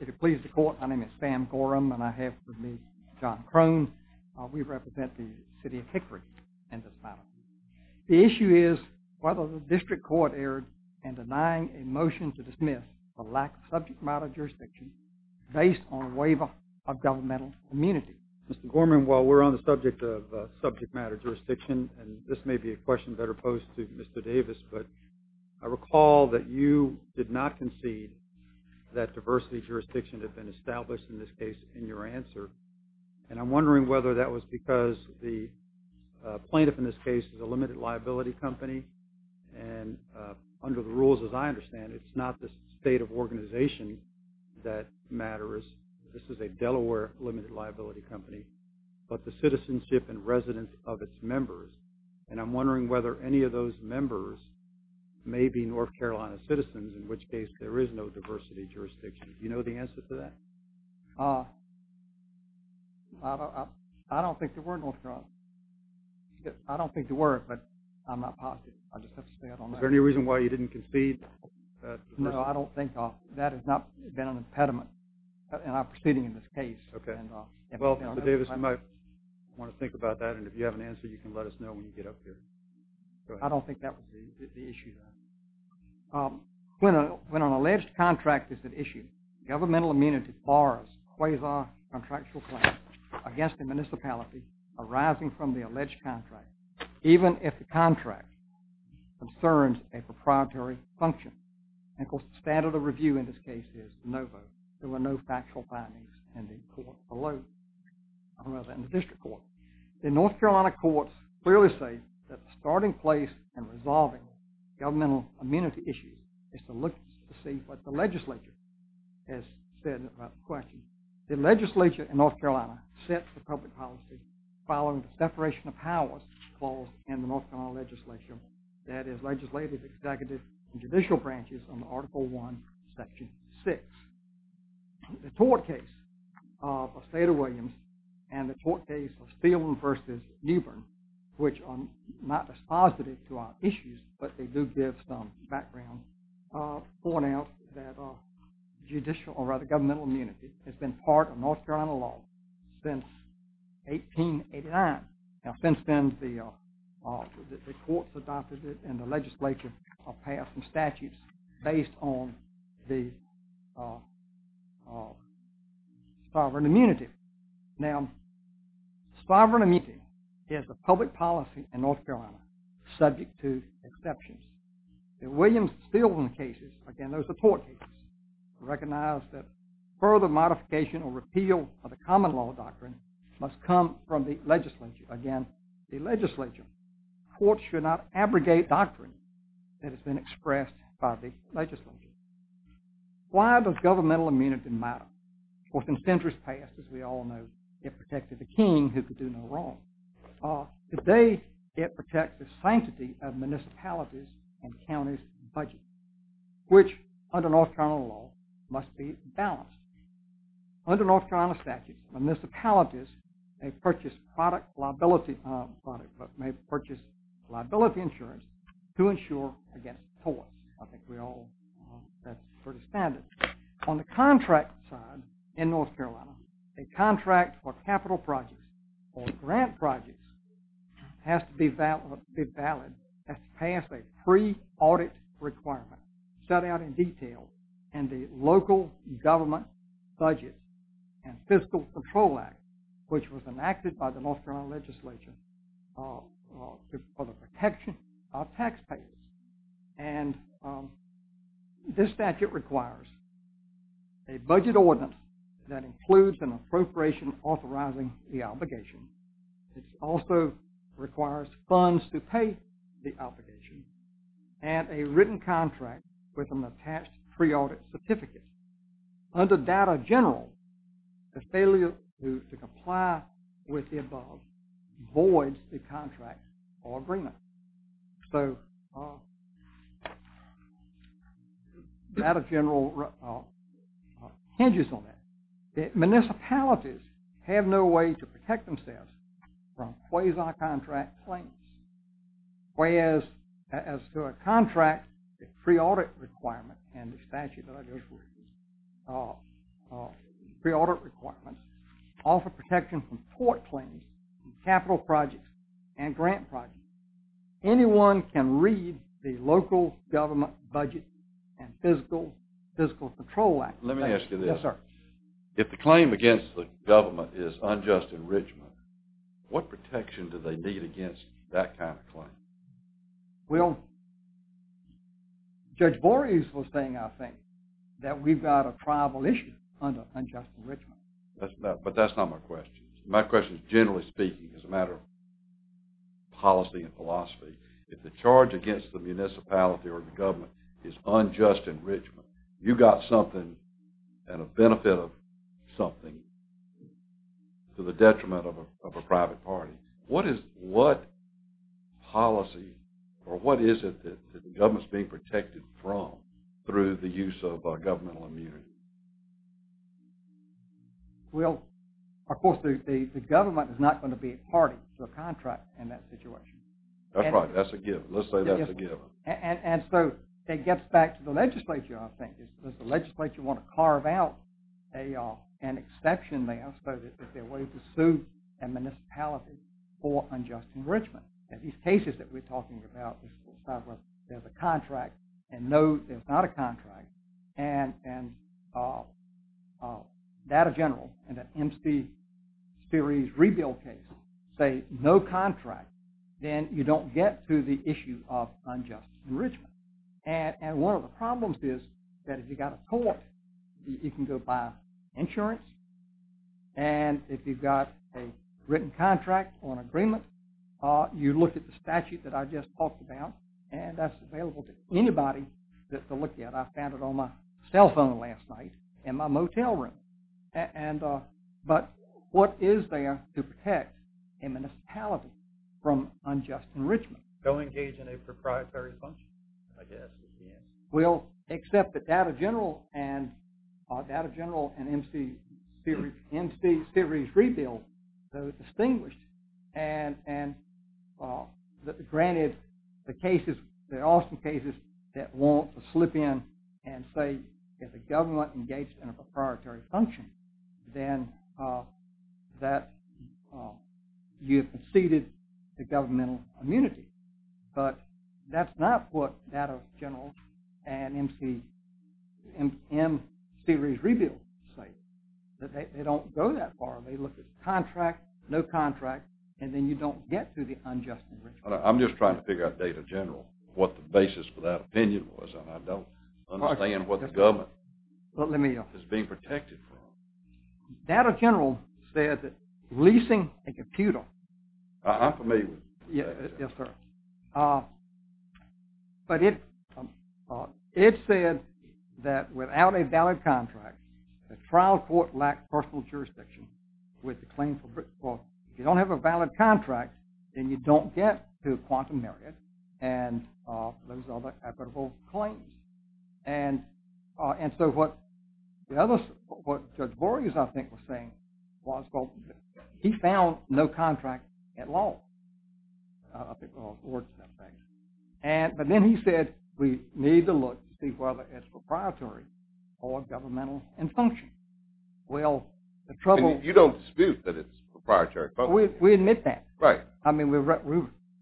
If it pleases the Court, my name is Sam Gorham and I have with me John Crone. We represent the City of Hickory in this matter. The issue is whether the District Court erred in denying a motion to dismiss the lack of subject matter jurisdiction based on waiver of governmental immunity. Mr. Gorham, while we're on the subject of subject matter jurisdiction, and this may be a question better posed to Mr. Davis, but I recall that you did not concede that diversity jurisdiction had been established in this case in your answer. And I'm wondering whether that was because the plaintiff in this case is a limited liability company, and under the rules as I understand it, it's not the state of organization that matters. This is a Delaware limited liability company, but the citizenship and residence of its members. And I'm wondering whether any of those members may be North Carolina citizens, in which case there is no diversity jurisdiction. Do you know the answer to that? I don't think there were North Carolinians. I don't think there were, but I'm not positive. I just have to say I don't know. Is there any reason why you didn't concede? No, I don't think that. That has not been an impediment in our proceeding in this case. Okay. Well, Mr. Davis, you might want to think about that, and if you have an answer, you can let us know when you get up here. I don't think that was the issue. When an alleged contract is at issue, governmental immunity borrows quasi-contractual claims against the municipality arising from the alleged contract, even if the contract concerns a proprietary function. And, of course, the standard of review in this case is no vote. There were no factual findings in the district court. The North Carolina courts clearly say that the starting place in resolving governmental immunity issues is to look to see what the legislature has said about the question. The legislature in North Carolina sets the public policy following the separation of powers clause in the North Carolina legislature, that is legislative, executive, and judicial branches under Article I, Section 6. The tort case of Stata Williams and the tort case of Steelman v. Newbern, which are not dispositive to our issues, but they do give some background point out that judicial, or rather governmental immunity, has been part of North Carolina law since 1889. Now, since then, the courts adopted it and the legislature passed some statutes based on the sovereign immunity. Now, sovereign immunity is the public policy in North Carolina, subject to exceptions. In Williams and Steelman cases, again, those are tort cases, recognize that further modification or repeal of the common law doctrine must come from the legislature. Again, the legislature. Courts should not abrogate doctrine that has been expressed by the legislature. Why does governmental immunity matter? Of course, incentives passed, as we all know, it protected the king who could do no wrong. Today, it protects the sanctity of municipalities and counties' budgets, which, under North Carolina law, must be balanced. Under North Carolina statute, municipalities may purchase liability insurance to insure against tort. I think we all understand it. On the contract side in North Carolina, a contract for capital projects or grant projects has to be valid, has to pass a pre-audit requirement set out in detail in the local government budget and fiscal patrol act, which was enacted by the North Carolina legislature for the protection of taxpayers. And this statute requires a budget ordinance that includes an appropriation authorizing the obligation. It also requires funds to pay the obligation and a written contract with an attached pre-audit certificate. Under data general, the failure to comply with the above voids the contract or agreement. So, data general hinges on that. Municipalities have no way to protect themselves from quasi-contract claims. Whereas, as to a contract, the pre-audit requirement and the statute that I just read, pre-audit requirements, offer protection from tort claims, capital projects, and grant projects. Anyone can read the local government budget and fiscal patrol act. Let me ask you this. Yes, sir. If the claim against the government is unjust enrichment, what protection do they need against that kind of claim? Well, Judge Borges was saying, I think, that we've got a tribal issue under unjust enrichment. But that's not my question. My question is, generally speaking, as a matter of policy and philosophy, if the charge against the municipality or the government is unjust enrichment, you've got something and a benefit of something to the detriment of a private party. What policy or what is it that the government is being protected from through the use of governmental immunity? Well, of course, the government is not going to be a party to a contract in that situation. That's right. That's a given. Let's say that's a given. And so, it gets back to the legislature, I think. Does the legislature want to carve out an exception there so that they're willing to sue a municipality for unjust enrichment? In these cases that we're talking about, there's a contract and no, there's not a contract. And data general in the MC series rebuild case say no contract. Then you don't get to the issue of unjust enrichment. And one of the problems is that if you've got a court, you can go by insurance. And if you've got a written contract or an agreement, you look at the statute that I just talked about, and that's available to anybody to look at. I found it on my cell phone last night in my motel room. But what is there to protect a municipality from unjust enrichment? Go engage in a proprietary function, I guess. Well, except that data general and MC series rebuild are distinguished. And granted, there are some cases that won't slip in and say, if the government engaged in a proprietary function, then you've exceeded the governmental immunity. But that's not what data general and MC series rebuild say. They don't go that far. They look at the contract, no contract, and then you don't get to the unjust enrichment. I'm just trying to figure out data general, what the basis for that opinion was. And I don't understand what the government is being protected from. Data general said that leasing a computer... I'm familiar with that. Yes, sir. But it said that without a valid contract, the trial court lacks personal jurisdiction with the claim for... Well, if you don't have a valid contract, then you don't get to a quantum merit and those other equitable claims. And so what Judge Borges, I think, was saying was, well, he found no contract at all. But then he said, we need to look to see whether it's proprietary or governmental in function. Well, the trouble... And you don't dispute that it's proprietary function? We admit that. Right. I mean, we're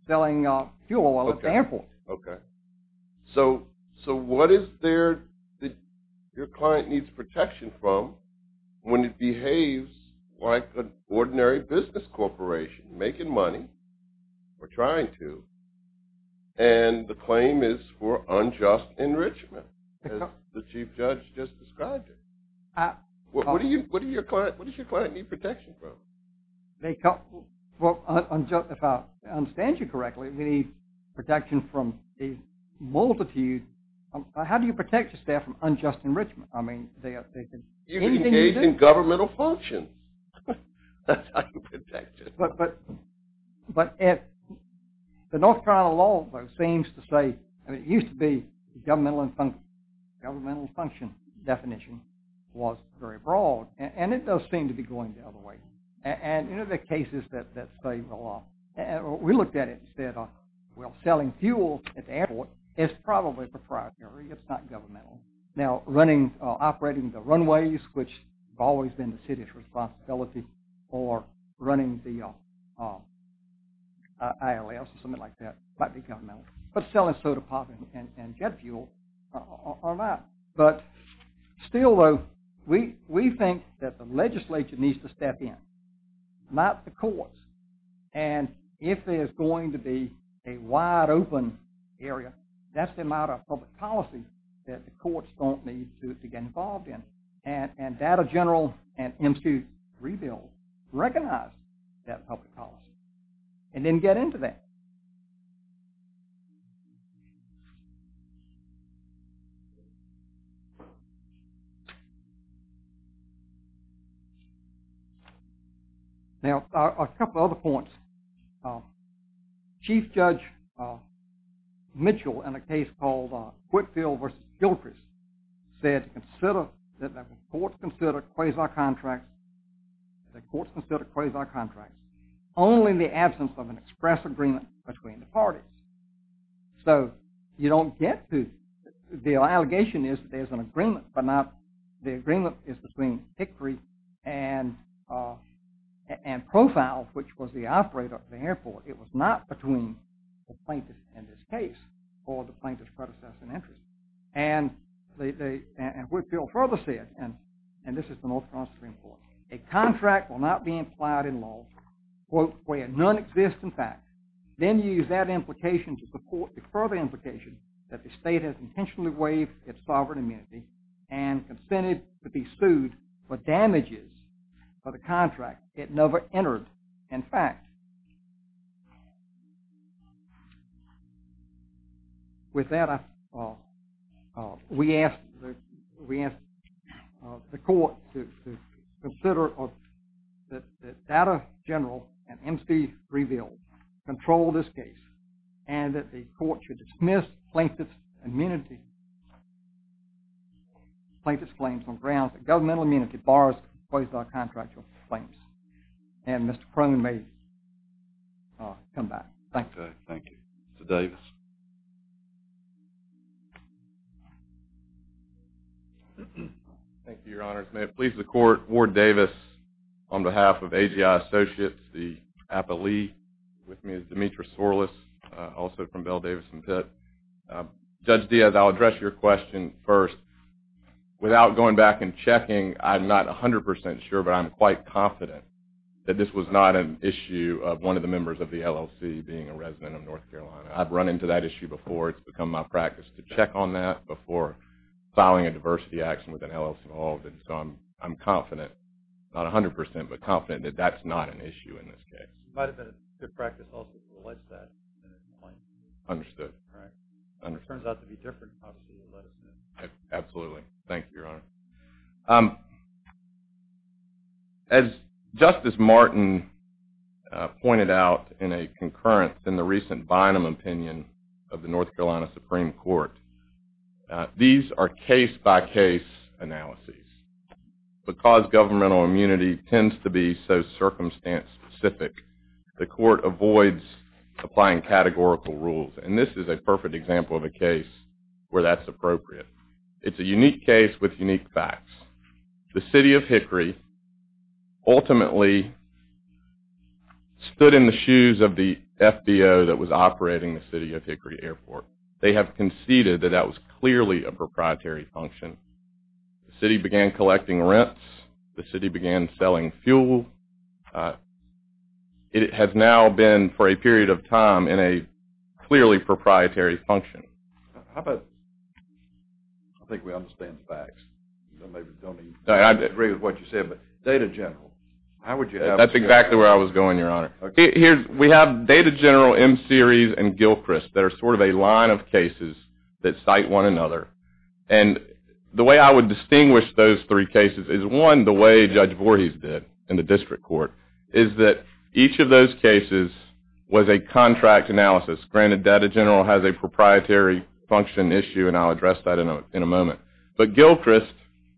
selling fuel at the airport. Okay. So what is there that your client needs protection from when it behaves like an ordinary business corporation, making money or trying to, and the claim is for unjust enrichment, as the Chief Judge just described it? What does your client need protection from? Well, if I understand you correctly, we need protection from a multitude... How do you protect your staff from unjust enrichment? I mean, they can... You can engage in governmental function. That's how you protect it. But the North Carolina law seems to say... I mean, it used to be governmental in function. Governmental in function definition was very broad, and it does seem to be going the other way. And you know the cases that say... We looked at it and said, well, selling fuel at the airport is probably proprietary. It's not governmental. Now, operating the runways, which have always been the city's responsibility, or running the ILS or something like that, might be governmental. But selling soda pop and jet fuel are not. But still though, we think that the legislature needs to step in, not the courts. And if there's going to be a wide open area, that's the amount of public policy that the courts don't need to get involved in. And data general and institute rebuild recognize that public policy. And then get into that. Now, a couple other points. Chief Judge Mitchell, in a case called Whitfield v. Gilchrist, said that the courts consider quasar contracts only in the absence of an express agreement between the parties. So you don't get to... The agreement is between Hickory and Profile, which was the operator of the airport. It was not between the plaintiff in this case or the plaintiff's predecessor in interest. And Whitfield further said, and this is the North Carolina Supreme Court, a contract will not be implied in law, quote, where none exist in fact. Then you use that implication to support the further implication that the state has intentionally waived its sovereign immunity and consented to be sued for damages for the contract it never entered in fact. With that, we ask the court to consider that data general and institute rebuild control this case and that the court should dismiss plaintiff's claims on grounds that governmental immunity bars quasar contractual claims. And Mr. Crone may come back. Thank you. Thank you. Mr. Davis. Thank you, Your Honors. May it please the court, Ward Davis on behalf of AGI Associates, the appellee with me is Demetra Sorles, also from Bell, Davis & Pitt. Judge Diaz, I'll address your question first. Without going back and checking, I'm not 100% sure, but I'm quite confident that this was not an issue of one of the members of the LLC being a resident of North Carolina. I've run into that issue before. It's become my practice to check on that before filing a diversity action with an LLC involved. So I'm confident, not 100%, but confident that that's not an issue in this case. It might have been a good practice also to allege that in a complaint. Understood. Right. It turns out to be different, obviously, to allege it. Absolutely. Thank you, Your Honor. As Justice Martin pointed out in a concurrence in the recent Bynum opinion of the North Carolina Supreme Court, these are case-by-case analyses. Because governmental immunity tends to be so circumstance-specific, the court avoids applying categorical rules, and this is a perfect example of a case where that's appropriate. It's a unique case with unique facts. The city of Hickory ultimately stood in the shoes of the FBO that was operating the city of Hickory Airport. They have conceded that that was clearly a proprietary function. The city began collecting rents. The city began selling fuel. It has now been, for a period of time, in a clearly proprietary function. How about, I think we understand the facts. I don't agree with what you said, but Data General, how would you have us go? That's exactly where I was going, Your Honor. We have Data General, M-Series, and Gilchrist that are sort of a line of cases that cite one another. The way I would distinguish those three cases is, one, the way Judge Voorhees did in the district court, is that each of those cases was a contract analysis. Granted, Data General has a proprietary function issue, and I'll address that in a moment. But Gilchrist,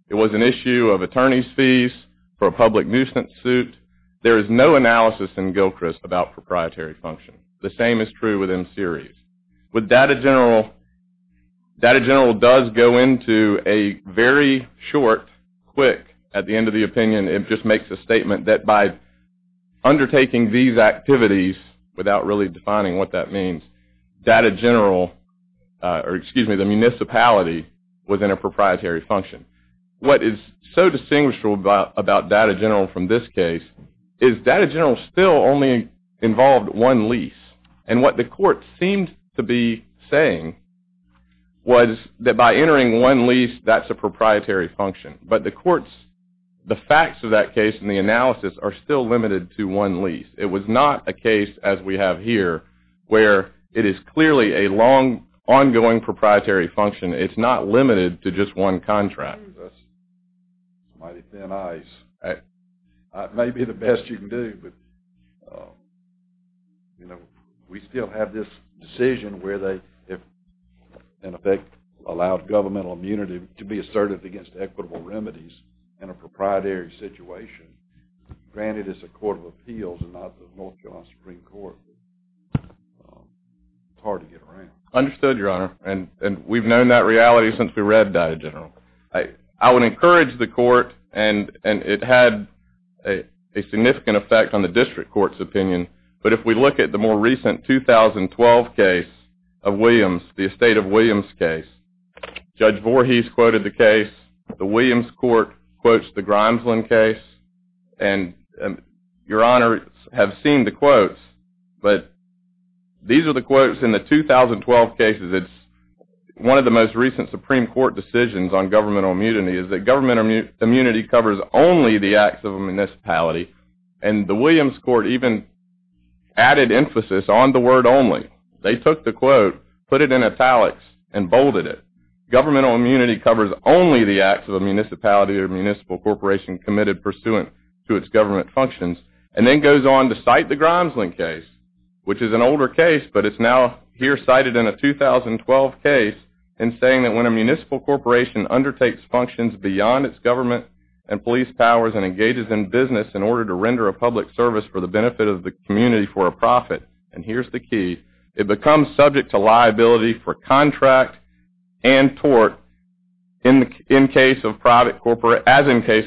it was an issue of attorney's fees for a public nuisance suit. There is no analysis in Gilchrist about proprietary function. The same is true with M-Series. With Data General, Data General does go into a very short, quick, at the end of the opinion, it just makes a statement, that by undertaking these activities, without really defining what that means, Data General, or excuse me, the municipality was in a proprietary function. What is so distinguishable about Data General from this case, is Data General still only involved one lease. And what the court seemed to be saying was that by entering one lease, that's a proprietary function. But the courts, the facts of that case and the analysis are still limited to one lease. It was not a case, as we have here, where it is clearly a long, ongoing proprietary function. It's not limited to just one contract. That's mighty thin ice. It may be the best you can do, but, you know, we still have this decision where they, in effect, allowed governmental immunity to be asserted against equitable remedies in a proprietary situation. Granted, it's a court of appeals and not the North Carolina Supreme Court, but it's hard to get around. Understood, Your Honor. And we've known that reality since we read Data General. I would encourage the court, and it had a significant effect on the district court's opinion, but if we look at the more recent 2012 case of Williams, the Estate of Williams case, Judge Voorhees quoted the case, the Williams court quotes the Grimesland case, and Your Honors have seen the quotes, but these are the quotes in the 2012 cases. It's one of the most recent Supreme Court decisions on governmental immunity, is that government immunity covers only the acts of a municipality, and the Williams court even added emphasis on the word only. They took the quote, put it in italics, and bolded it. Governmental immunity covers only the acts of a municipality or municipal corporation committed pursuant to its government functions, and then goes on to cite the Grimesland case, which is an older case, but it's now here cited in a 2012 case, and saying that when a municipal corporation undertakes functions beyond its government and police powers and engages in business in order to render a public service for the benefit of the community for a profit, and here's the key, it becomes subject to liability for contract and tort as in case of private corporations.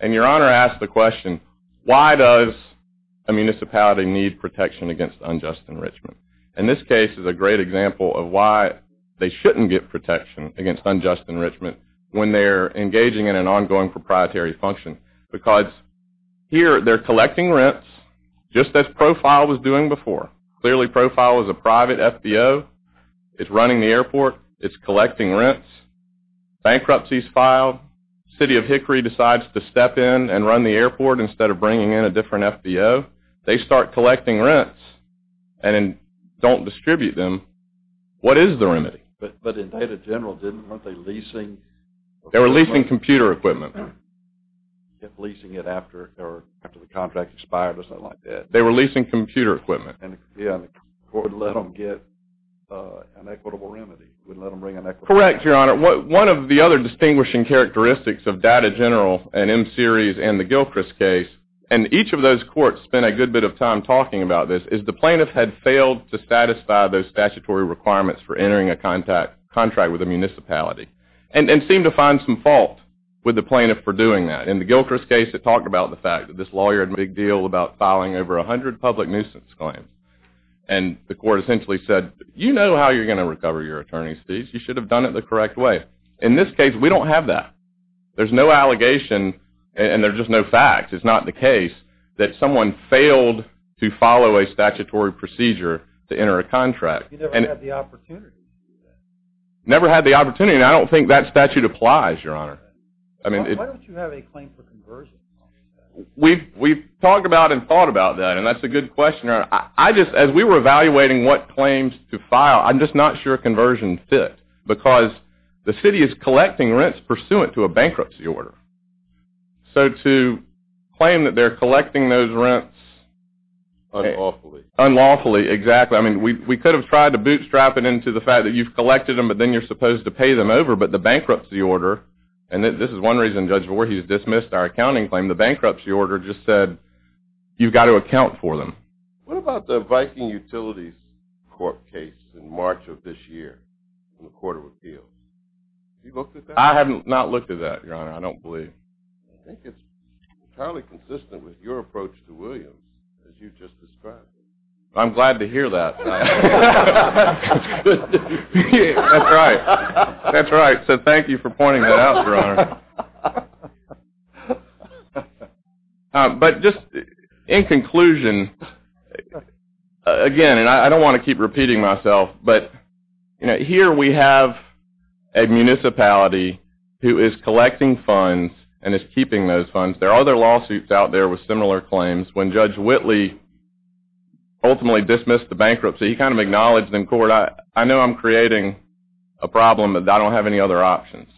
And Your Honor asks the question, why does a municipality need protection against unjust enrichment? And this case is a great example of why they shouldn't get protection against unjust enrichment when they're engaging in an ongoing proprietary function, because here they're collecting rents just as Profile was doing before. Clearly Profile is a private FBO. It's running the airport. It's collecting rents. Bankruptcy is filed. City of Hickory decides to step in and run the airport instead of bringing in a different FBO. They start collecting rents and don't distribute them. What is the remedy? But in data general, weren't they leasing? They were leasing computer equipment. Leasing it after the contract expired or something like that. They were leasing computer equipment. And the court would let them get an equitable remedy, wouldn't let them bring in an equitable remedy. Correct, Your Honor. One of the other distinguishing characteristics of data general and M-Series and the Gilchrist case, and each of those courts spent a good bit of time talking about this, is the plaintiff had failed to satisfy those statutory requirements for entering a contract with a municipality and seemed to find some fault with the plaintiff for doing that. In the Gilchrist case it talked about the fact that this lawyer had made a big deal about filing over 100 public nuisance claims. you know how you're going to recover your attorney's fees. You should have done it the correct way. In this case, we don't have that. There's no allegation and there's just no fact. It's not the case that someone failed to follow a statutory procedure to enter a contract. You never had the opportunity to do that. Never had the opportunity. And I don't think that statute applies, Your Honor. Why don't you have a claim for conversion? We've talked about and thought about that, and that's a good question. As we were evaluating what claims to file, I'm just not sure a conversion fit, because the city is collecting rents pursuant to a bankruptcy order. So to claim that they're collecting those rents... Unlawfully. Unlawfully, exactly. I mean, we could have tried to bootstrap it into the fact that you've collected them but then you're supposed to pay them over, but the bankruptcy order, and this is one reason Judge Voorhees dismissed our accounting claim, the bankruptcy order just said you've got to account for them. What about the Viking Utilities Court case in March of this year in the Court of Appeals? Have you looked at that? I have not looked at that, Your Honor. I don't believe. I think it's entirely consistent with your approach to Williams as you just described it. I'm glad to hear that. That's good to hear. That's right. That's right. So thank you for pointing that out, Your Honor. But just in conclusion, again, and I don't want to keep repeating myself, but here we have a municipality who is collecting funds and is keeping those funds. There are other lawsuits out there with similar claims. When Judge Whitley ultimately dismissed the bankruptcy, he kind of acknowledged in court, I know I'm creating a problem but I don't have any other options.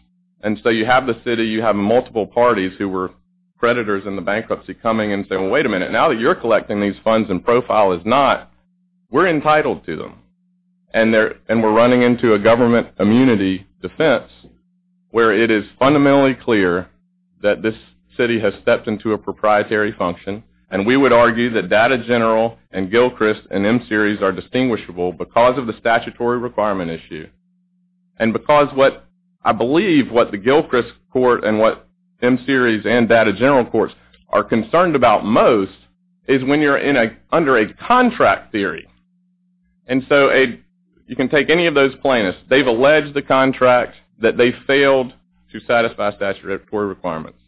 And so you have the city, you have multiple parties who were creditors in the bankruptcy coming and saying, wait a minute, now that you're collecting these funds and Profile is not, we're entitled to them. And we're running into a government immunity defense where it is fundamentally clear that this city has stepped into a proprietary function, and we would argue that Data General and Gilchrist and M-Series are distinguishable because of the statutory requirement issue and because what I believe what the Gilchrist Court and what M-Series and Data General Courts are concerned about most is when you're under a contract theory. And so you can take any of those plaintiffs. They've alleged the contract that they failed to satisfy statutory requirements.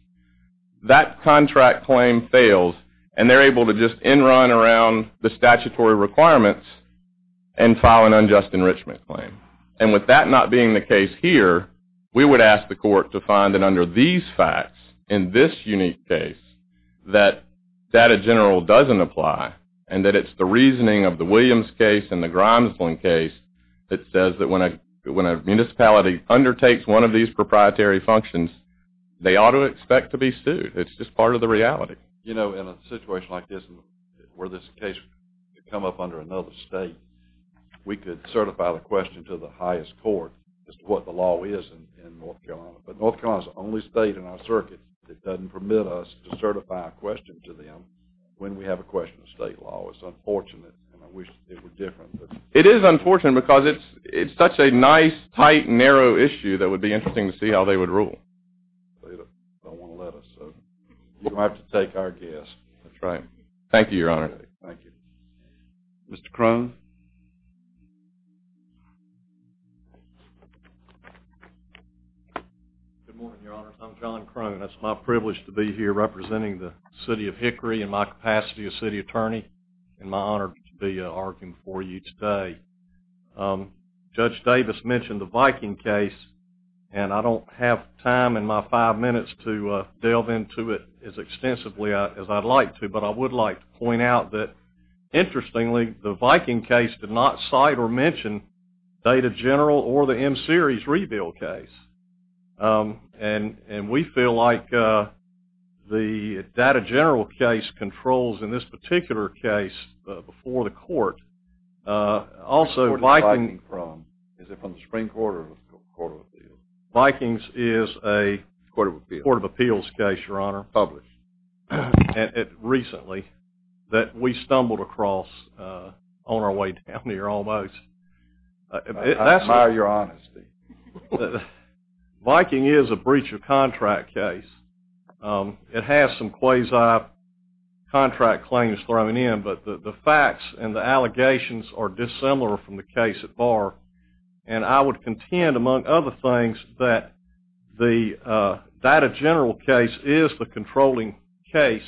That contract claim fails, and they're able to just in run around the statutory requirements and file an unjust enrichment claim. And with that not being the case here, we would ask the court to find that under these facts, in this unique case, that Data General doesn't apply and that it's the reasoning of the Williams case and the Grimesland case that says that when a municipality undertakes one of these proprietary functions, they ought to expect to be sued. It's just part of the reality. You know, in a situation like this where this case could come up under another state, we could certify the question to the highest court as to what the law is in North Carolina. But North Carolina's the only state in our circuit that doesn't permit us to certify a question to them when we have a question of state law. It's unfortunate, and I wish it were different. It is unfortunate because it's such a nice, tight, narrow issue that it would be interesting to see how they would rule. They don't want to let us. You don't have to take our guess. That's right. Thank you, Your Honor. Thank you. Mr. Crone? Good morning, Your Honor. I'm John Crone. It's my privilege to be here representing the city of Hickory in my capacity as city attorney and my honor to be arguing for you today. Judge Davis mentioned the Viking case, and I don't have time in my five minutes to delve into it as extensively as I'd like to, but I would like to point out that, interestingly, the Viking case did not cite or mention Data General or the M-Series rebuild case. And we feel like the Data General case controls in this particular case before the court. Also, Viking... Is it from the Supreme Court or the Court of Appeals? Vikings is a... Court of Appeals. Court of Appeals case, Your Honor. Published. And it recently that we stumbled across on our way down here almost. I admire your honesty. Viking is a breach of contract case. It has some quasi-contract claims thrown in, but the facts and the allegations are dissimilar from the case at bar, and I would contend, among other things, that the Data General case is the controlling case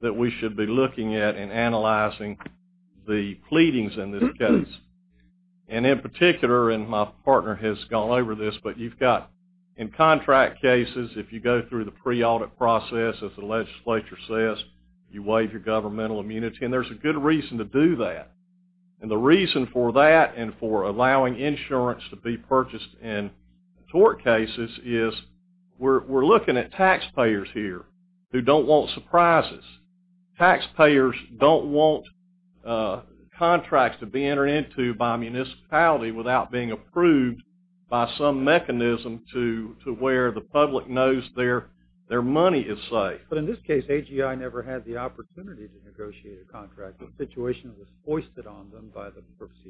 that we should be looking at and analyzing the pleadings in this case. And in particular, and my partner has gone over this, but you've got, in contract cases, if you go through the pre-audit process, as the legislature says, you waive your governmental immunity, and there's a good reason to do that. And the reason for that and for allowing insurance to be purchased in tort cases is we're looking at taxpayers here who don't want surprises. Taxpayers don't want contracts to be entered into by a municipality without being approved by some mechanism to where the public knows their money is safe. AGI never had the opportunity to negotiate a contract. The situation was hoisted on them by the purposes.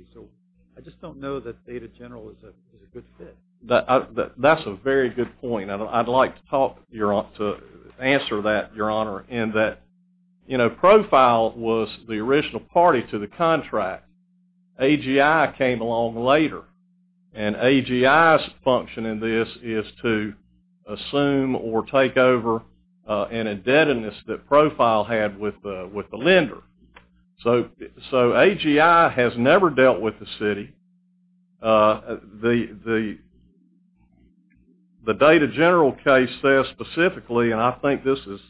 I just don't know that Data General is a good fit. That's a very good point. I'd like to answer that, Your Honor, in that Profile was the original party to the contract. AGI came along later, and AGI's function in this is to assume or take over an indebtedness that Profile had with the lender. So AGI has never dealt with the city. The Data General case says specifically, and I think this is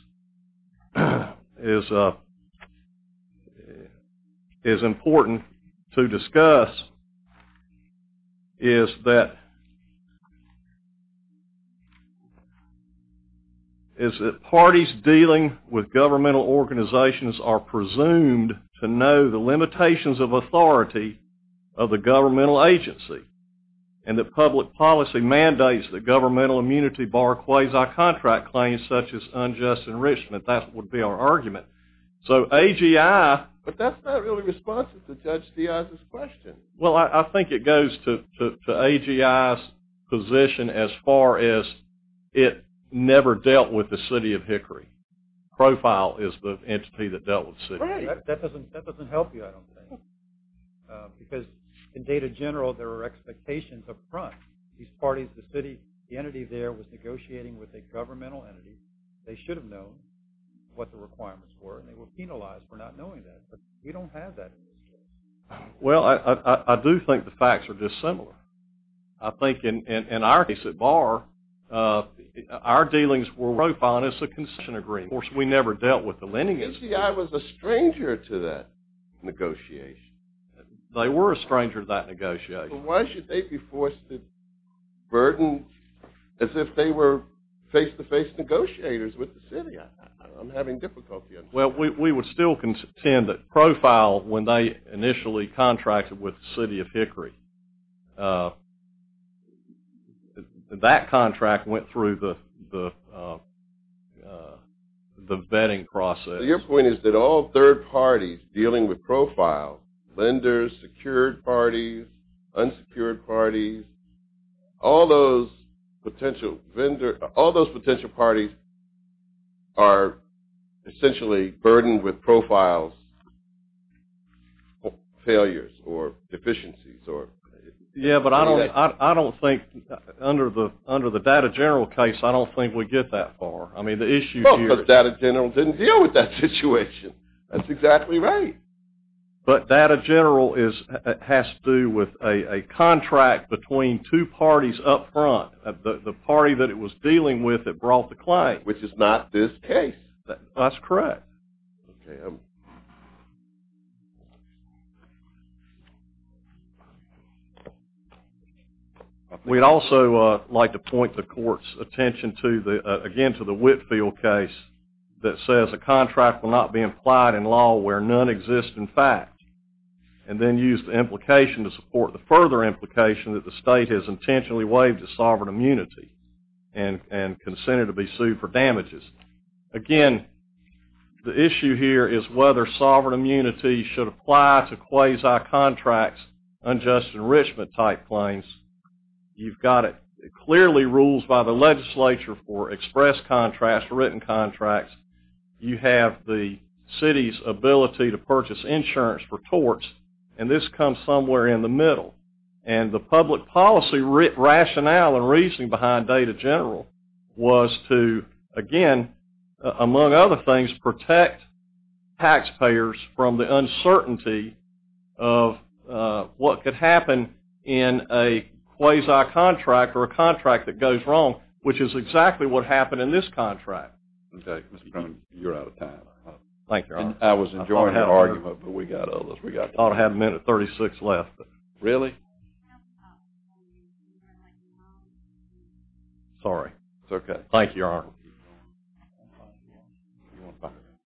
important to discuss, is that parties dealing with governmental organizations are presumed to know the limitations of authority of the governmental agency and that public policy mandates that governmental immunity bar quasi-contract claims such as unjust enrichment. That would be our argument. So AGI... But that's not really responsive to Judge Diaz's question. Well, I think it goes to AGI's position as far as it never dealt with the city of Hickory. Profile is the entity that dealt with the city. Right. That doesn't help you, I don't think. Because in Data General, there are expectations up front. These parties, the city, the entity there was negotiating with a governmental entity. They should have known what the requirements were, and they were penalized for not knowing that. But we don't have that in this case. Well, I do think the facts are dissimilar. I think in our case at Barr, our dealings were profiled as a concession agreement. Of course, we never dealt with the lending agency. AGI was a stranger to that negotiation. They were a stranger to that negotiation. Why should they be forced to burden as if they were face-to-face negotiators with the city? I'm having difficulty understanding. Well, we would still contend that profile, when they initially contracted with the city of Hickory, that contract went through the vetting process. Your point is that all third parties dealing with profile, lenders, secured parties, unsecured parties, all those potential parties are essentially burdened with profiles, failures or deficiencies. Yeah, but I don't think under the data general case, I don't think we get that far. I mean, the issue here is... Well, the data general didn't deal with that situation. That's exactly right. But data general has to do with a contract between two parties up front. The party that it was dealing with that brought the claim. Which is not this case. That's correct. We'd also like to point the court's attention again to the Whitfield case that says a contract will not be implied in law where none exist in fact, and then use the implication to support the further implication that the state has intentionally waived the sovereign immunity and consented to be sued for damages. Again, the issue here is whether sovereign immunity should apply to quasi-contracts, unjust enrichment type claims. You've got it clearly ruled by the legislature for express contracts, written contracts. You have the city's ability to purchase insurance for torts, and this comes somewhere in the middle. And the public policy rationale and reasoning behind data general was to, again, among other things, protect taxpayers from the uncertainty of what could happen in a quasi-contract or a contract that goes wrong, which is exactly what happened in this contract. Okay, Mr. Brown, you're out of time. Thank you, Your Honor. I was enjoying your argument, but we've got others. I thought I had a minute and 36 left. Really? It's okay. Thank you, Your Honor.